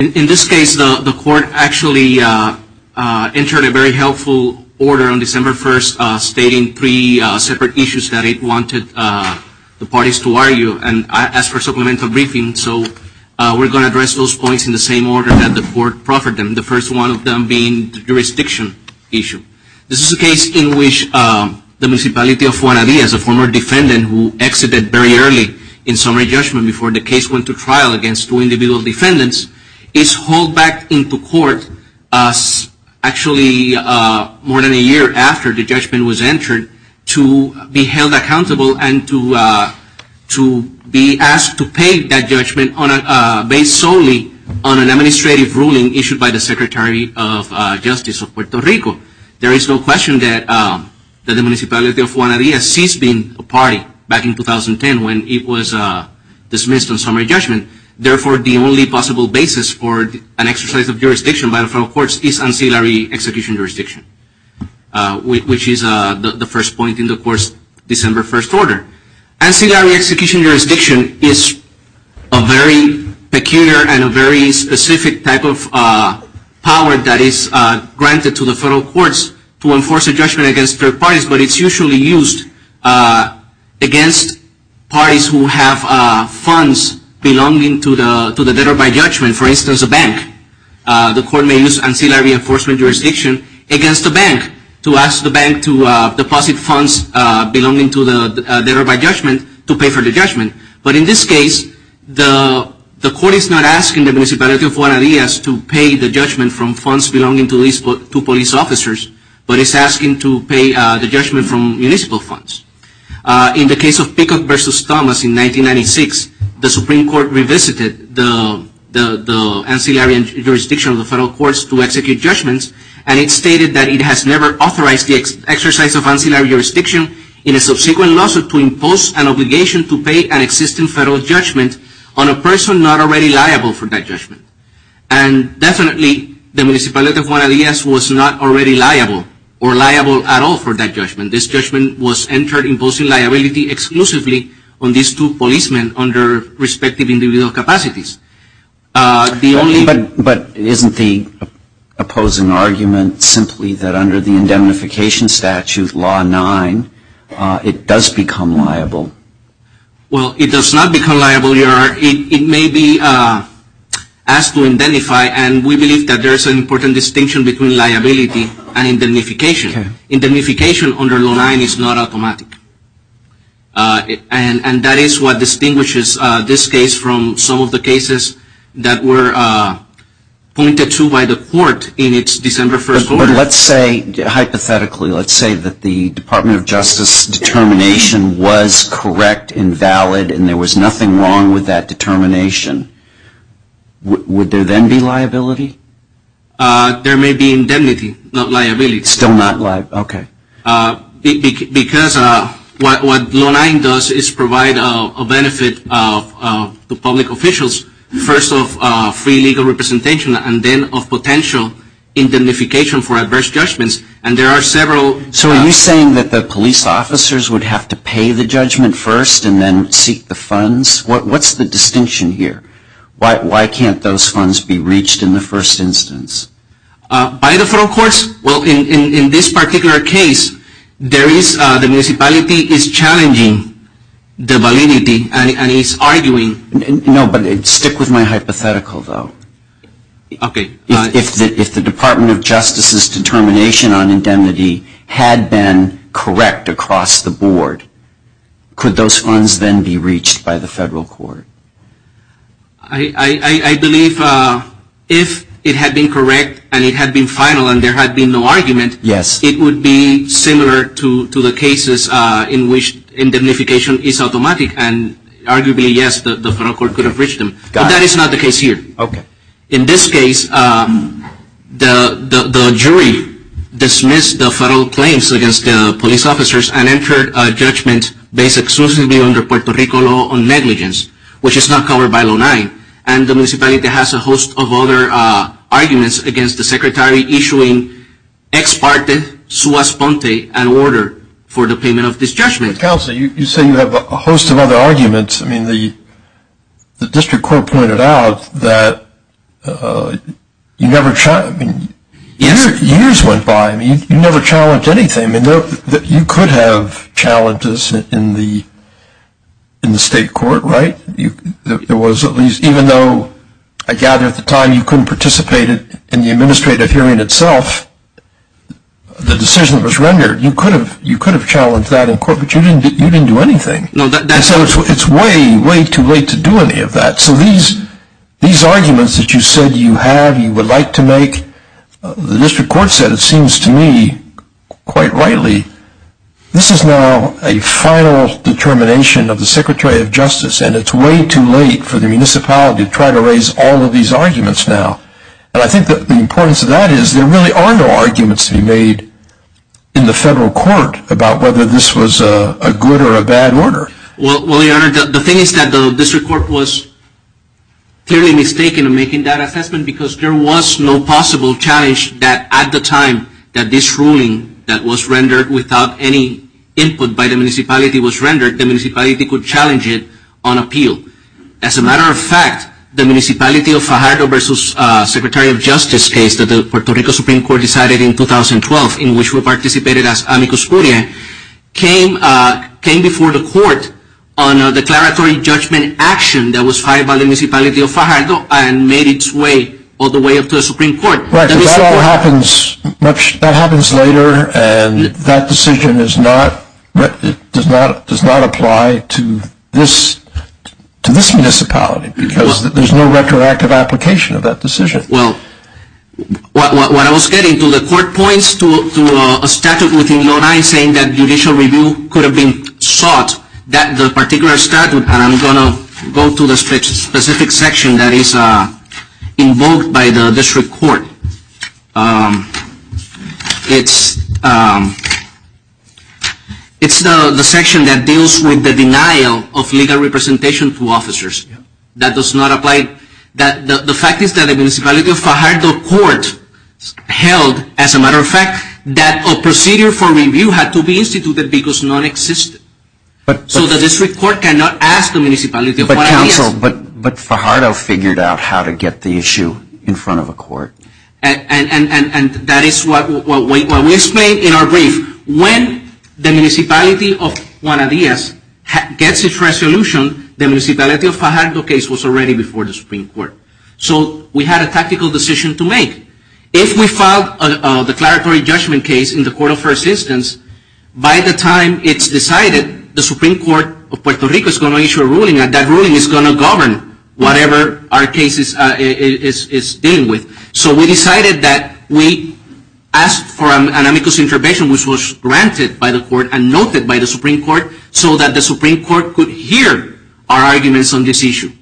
In this case, the court actually entered a very helpful order on December 1st stating three separate issues that it wanted the parties to argue, and I asked for supplemental briefing, so we're going to address those points in the same order that the court proffered them, the first one of them being the jurisdiction issue. This is a case in which the Municipality of Juana Diaz, a former defendant who exited very early in summary judgment before the case went to trial against two individual defendants, is hauled back into court actually more than a year after the judgment was entered to be held accountable and to be asked to pay that judgment based solely on an administrative ruling issued by the Secretary of Justice of Puerto Rico. There is no question that the Municipality of Juana Diaz ceased being a party back in 2010 when it was dismissed on summary judgment. Therefore, the only possible basis for an exercise of jurisdiction by the federal courts is ancillary execution jurisdiction, which is the first point in the court's December 1st order. Ancillary execution jurisdiction is a very peculiar and a very specific type of power that is granted to the federal courts to enforce a judgment against third parties, but it's usually used against parties who have funds belonging to the debtor-by-judgment, for instance a bank. The court may use ancillary enforcement jurisdiction against a bank to ask the bank to deposit funds belonging to the debtor-by-judgment to pay for the judgment. But in this case, the court is not asking the Municipality of Juana Diaz to pay the judgment from funds belonging to police officers, but it's asking to pay the judgment from municipal funds. In the case of Pickup v. Thomas in 1996, the Supreme Court revisited the ancillary jurisdiction of the federal courts to execute judgments, and it stated that it has never authorized the exercise of ancillary jurisdiction in a subsequent lawsuit to impose an obligation to pay an existing federal judgment on a person not already liable for that judgment. And definitely, the Municipality of Juana Diaz was not already liable or liable at all for that judgment. This judgment was entered imposing liability exclusively on these two policemen under respective individual capacities. But isn't the opposing argument simply that under the indemnification statute, Law 9, it does become liable? Well, it does not become liable. It may be asked to indemnify, and we believe that there is an important distinction between liability and indemnification. Indemnification under Law 9 is not automatic. And that is what distinguishes this case from some of the cases that were pointed to by the court in its December 1st order. But let's say, hypothetically, let's say that the Department of Justice determination was correct and valid and there was nothing wrong with that determination. Would there then be liability? There may be indemnity, not liability. Still not liable. Okay. Because what Law 9 does is provide a benefit to public officials, first of free legal representation and then of potential indemnification for adverse judgments. And there are several... So are you saying that the police officers would have to pay the judgment first and then seek the funds? What's the distinction here? Why can't those funds be reached in the first instance? By the federal courts? Well, in this particular case, the municipality is challenging the validity and is arguing... No, but stick with my hypothetical, though. Okay. If the Department of Justice's determination on indemnity had been correct across the board, could those funds then be reached by the federal court? I believe if it had been correct and it had been final and there had been no argument, it would be similar to the cases in which indemnification is automatic. And arguably, yes, the federal court could have reached them. But that is not the case here. Okay. In this case, the jury dismissed the federal claims against the police officers and entered a judgment based exclusively on the Puerto Rico law on negligence, which is not covered by Law 9. And the municipality has a host of other arguments against the Secretary issuing Ex Parte Suas Ponte an order for the payment of this judgment. Counsel, you say you have a host of other arguments. I mean, the district court pointed out that years went by. I mean, you never challenged anything. You could have challenges in the state court, right? There was at least, even though I gather at the time you couldn't participate in the administrative hearing itself, the decision was rendered. You could have challenged that in court, but you didn't do anything. And so it's way, way too late to do any of that. So these arguments that you said you have, you would like to make, the district court said it seems to me, quite rightly, this is now a final determination of the Secretary of Justice, and it's way too late for the municipality to try to raise all of these arguments now. And I think the importance of that is there really are no arguments to be made in the federal court about whether this was a good or a bad order. Well, Your Honor, the thing is that the district court was clearly mistaken in making that assessment because there was no possible challenge that at the time that this ruling that was rendered without any input by the municipality was rendered, the municipality could challenge it on appeal. As a matter of fact, the municipality of Fajardo versus Secretary of Justice case that the Puerto Rico Supreme Court decided in 2012, in which we participated as amicus curiae, came before the court on a declaratory judgment action that was filed by the municipality of Fajardo and made its way all the way up to the Supreme Court. Right, because that all happens later, and that decision does not apply to this municipality because there's no retroactive application of that decision. Well, what I was getting to, the court points to a statute within the 09 saying that judicial review could have been sought, that the particular statute, and I'm going to go to the specific section that is invoked by the district court. It's the section that deals with the denial of legal representation to officers. That does not apply. The fact is that the municipality of Fajardo court held, as a matter of fact, that a procedure for review had to be instituted because none existed. So the district court cannot ask the municipality of Juan Adias. But Fajardo figured out how to get the issue in front of a court. And that is what we explained in our brief. When the municipality of Juan Adias gets its resolution, the municipality of Fajardo case was already before the Supreme Court. So we had a tactical decision to make. If we filed a declaratory judgment case in the court of first instance, by the time it's decided, the Supreme Court of Puerto Rico is going to issue a ruling, and that ruling is going to govern whatever our case is dealing with. So we decided that we asked for an amicus intervention, which was granted by the court and noted by the Supreme Court, so that the Supreme Court could hear our arguments on this issue.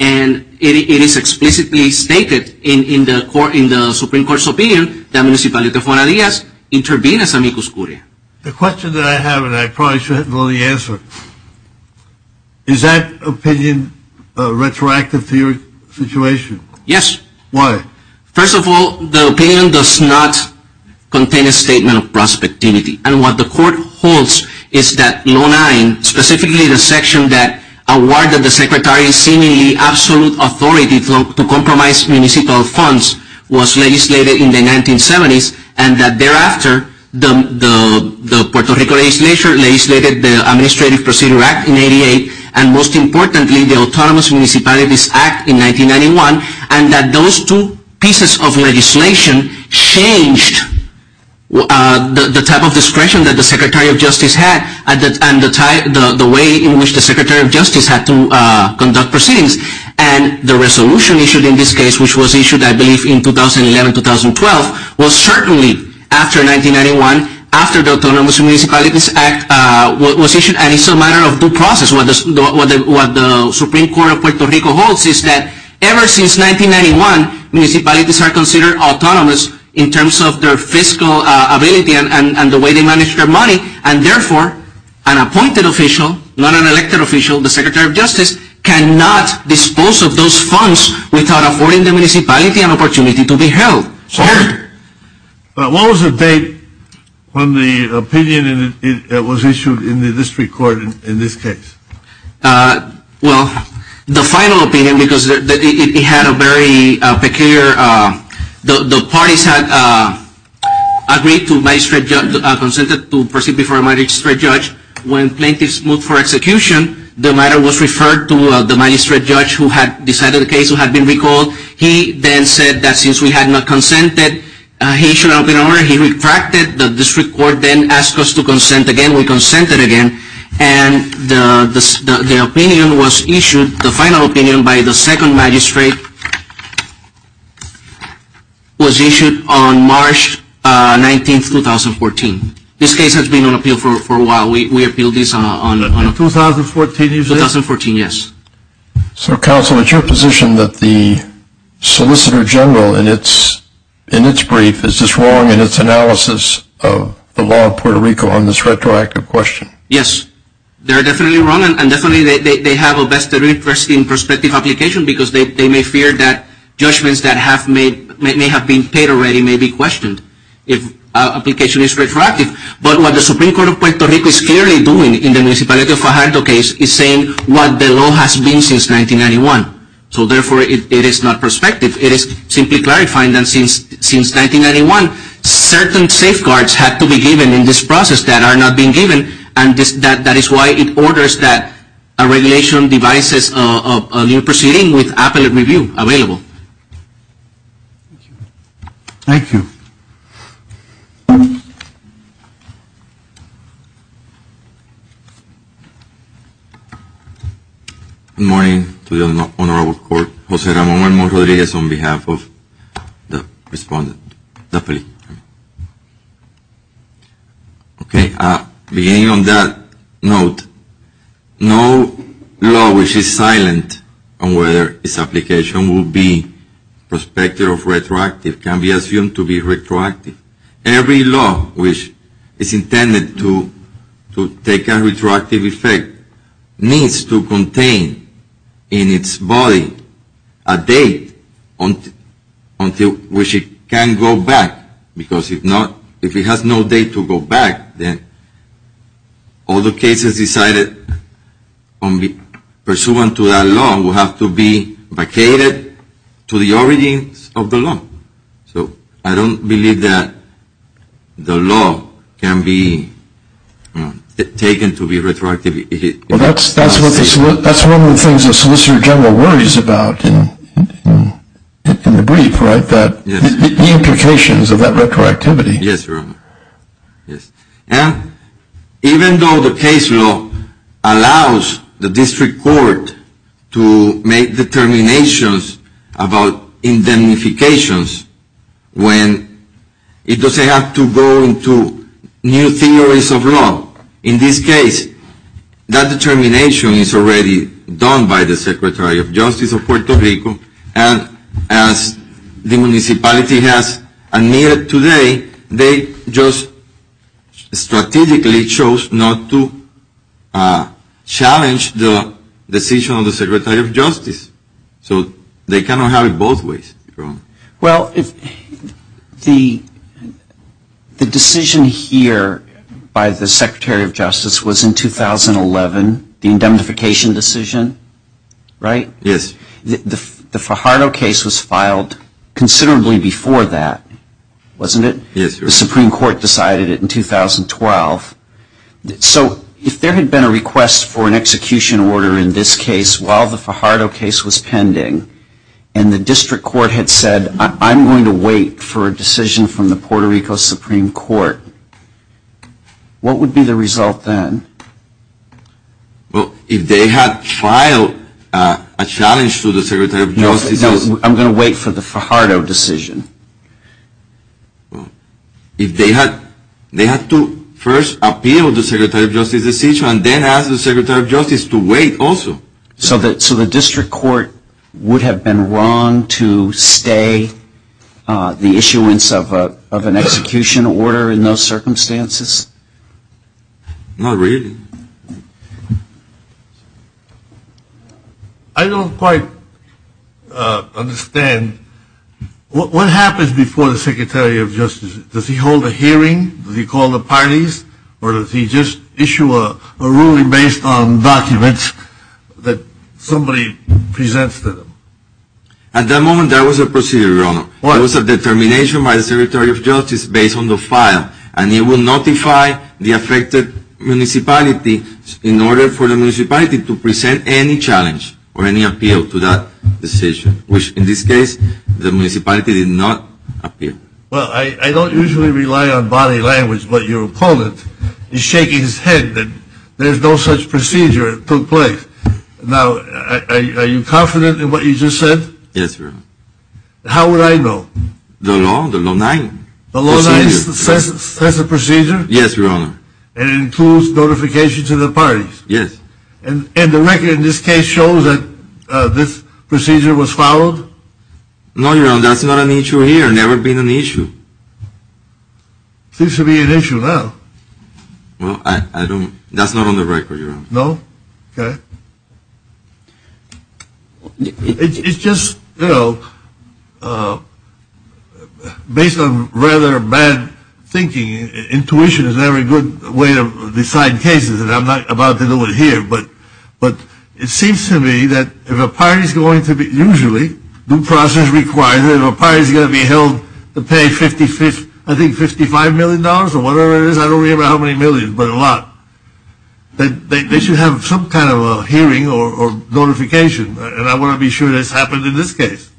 And it is explicitly stated in the Supreme Court's opinion that municipality of Juan Adias intervened as amicus curia. The question that I have, and I probably shouldn't know the answer, is that opinion retroactive to your situation? Yes. Why? First of all, the opinion does not contain a statement of prospectivity. And what the court holds is that law 9, specifically the section that awarded the secretary seemingly absolute authority to compromise municipal funds, was legislated in the 1970s, and that thereafter, the Puerto Rico legislature legislated the Administrative Procedure Act in 88, and most importantly, the Autonomous Municipalities Act in 1991, and that those two pieces of legislation changed the type of discretion that the Secretary of Justice had, and the way in which the Secretary of Justice had to conduct proceedings. And the resolution issued in this case, which was issued I believe in 2011-2012, was certainly after 1991, after the Autonomous Municipalities Act was issued, and it's a matter of due process. What the Supreme Court of Puerto Rico holds is that ever since 1991, municipalities are considered autonomous in terms of their fiscal ability and the way they manage their money, and therefore, an appointed official, not an elected official, the Secretary of Justice, cannot dispose of those funds without affording the municipality an opportunity to be held. Sir? What was the date when the opinion was issued in the district court in this case? Well, the final opinion, because it had a very peculiar, the parties had agreed to magistrate judge, consented to proceed before a magistrate judge. When plaintiffs moved for execution, the matter was referred to the magistrate judge who had decided the case, who had been recalled. He then said that since we had not consented, he should open the order. He retracted. The district court then asked us to consent again. We consented again. And the opinion was issued, the final opinion by the second magistrate, was issued on March 19, 2014. This case has been on appeal for a while. We appealed this on 2014. 2014, yes. So, Counsel, it's your position that the Solicitor General, in its brief, is this wrong in its analysis of the law of Puerto Rico on this retroactive question? Yes. They're definitely wrong, and definitely they have a vested interest in prospective application because they may fear that judgments that may have been paid already may be questioned if application is retroactive. But what the Supreme Court of Puerto Rico is clearly doing in the Municipality of Fajardo case is saying what the law has been since 1991. So, therefore, it is not prospective. It is simply clarifying that since 1991, certain safeguards had to be given in this process that are not being given, and that is why it orders that a regulation devises a new proceeding with appellate review available. Thank you. Good morning to the Honorable Court. Jose Ramon Rodriguez on behalf of the respondent. Definitely. Okay, beginning on that note, no law which is silent on whether its application will be prospective or retroactive can be assumed to be retroactive. Every law which is intended to take a retroactive effect needs to contain in its body a date until which it can go back because if it has no date to go back, then all the cases decided pursuant to that law will have to be vacated to the origins of the law. So, I don't believe that the law can be taken to be retroactive. Well, that's one of the things the Solicitor General worries about in the brief, right, the implications of that retroactivity. Yes, Your Honor. Yes, and even though the case law allows the district court to make determinations about indemnifications when it doesn't have to go into new theories of law, in this case that determination is already done by the Secretary of Justice of Puerto Rico and as the municipality has admitted today, they just strategically chose not to challenge the decision of the Secretary of Justice. So, they cannot have it both ways. Well, the decision here by the Secretary of Justice was in 2011, the indemnification decision, right? Yes. The Fajardo case was filed considerably before that, wasn't it? Yes, Your Honor. The Supreme Court decided it in 2012. So, if there had been a request for an execution order in this case while the Fajardo case was pending and the district court had said, I'm going to wait for a decision from the Puerto Rico Supreme Court, what would be the result then? Well, if they had filed a challenge to the Secretary of Justice. No, I'm going to wait for the Fajardo decision. Well, if they had to first appeal the Secretary of Justice decision and then ask the Secretary of Justice to wait also. So, the district court would have been wrong to stay the issuance of an execution order in those circumstances? Not really. I don't quite understand. What happens before the Secretary of Justice? Does he hold a hearing? Does he call the parties? Or does he just issue a ruling based on documents that somebody presents to them? At that moment, there was a procedure, Your Honor. What? There was a determination by the Secretary of Justice based on the file, and he will notify the affected municipality in order for the municipality to present any challenge or any appeal to that decision, which in this case, the municipality did not appeal. Well, I don't usually rely on body language, but your opponent is shaking his head that there's no such procedure that took place. Now, are you confident in what you just said? Yes, Your Honor. How would I know? The law, the law 9. The law 9 says there's a procedure? Yes, Your Honor. And it includes notification to the parties? Yes. And the record in this case shows that this procedure was followed? No, Your Honor, that's not an issue here. It's never been an issue. It seems to be an issue now. Well, that's not on the record, Your Honor. No? Okay. It's just, you know, based on rather bad thinking, intuition is never a good way to decide cases, and I'm not about to do it here, but it seems to me that if a party is going to be usually, due process requires, if a party is going to be held to pay, I think, $55 million or whatever it is, I don't remember how many millions, but a lot, they should have some kind of a hearing or notification, and I want to be sure that's happened in this case.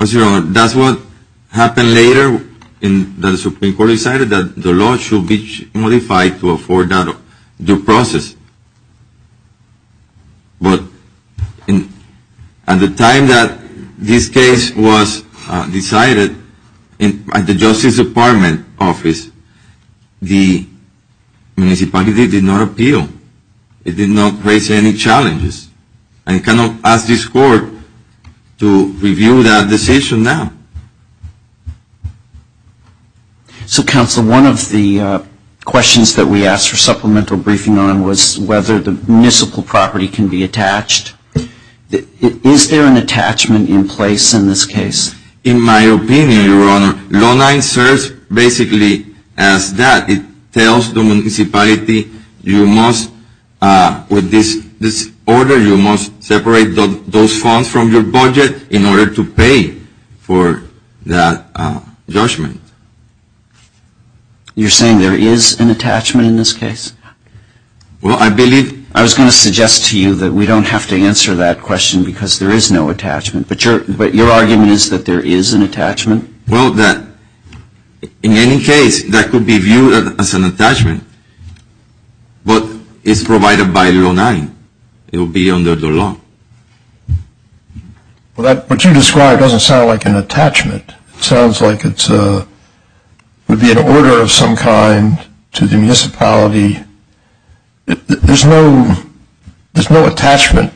Yes, Your Honor. That's what happened later in that the Supreme Court decided that the law should be modified to afford that due process. But at the time that this case was decided, at the Justice Department office, the municipality did not appeal. It did not raise any challenges, and it cannot ask this court to review that decision now. So, Counsel, one of the questions that we asked for supplemental briefing on was whether the municipal property can be attached. Is there an attachment in place in this case? In my opinion, Your Honor, law 9 serves basically as that. It tells the municipality you must, with this order, you must separate those funds from your budget in order to pay for that judgment. You're saying there is an attachment in this case? Well, I believe... I was going to suggest to you that we don't have to answer that question because there is no attachment, Well, in any case, that could be viewed as an attachment, but it's provided by law 9. It would be under the law. Well, what you described doesn't sound like an attachment. It sounds like it would be an order of some kind to the municipality. There's no attachment.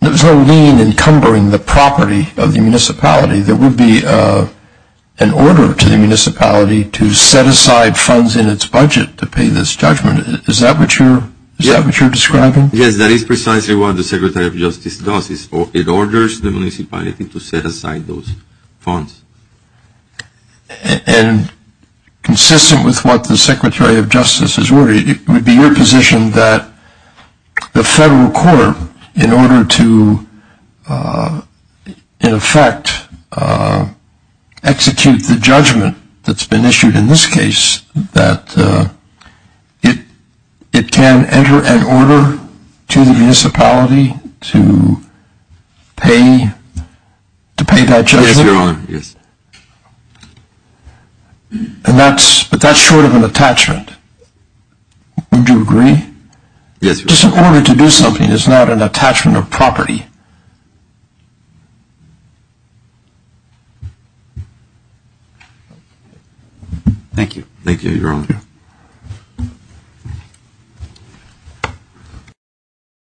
There's no lien encumbering the property of the municipality. There would be an order to the municipality to set aside funds in its budget to pay this judgment. Is that what you're describing? Yes, that is precisely what the Secretary of Justice does. It orders the municipality to set aside those funds. And consistent with what the Secretary of Justice has ordered, it would be your position that the federal court, in order to, in effect, execute the judgment that's been issued in this case, that it can enter an order to the municipality to pay that judgment? Yes. Your Honor, yes. But that's short of an attachment. Wouldn't you agree? Yes, Your Honor. Just an order to do something is not an attachment of property. Thank you. Thank you, Your Honor.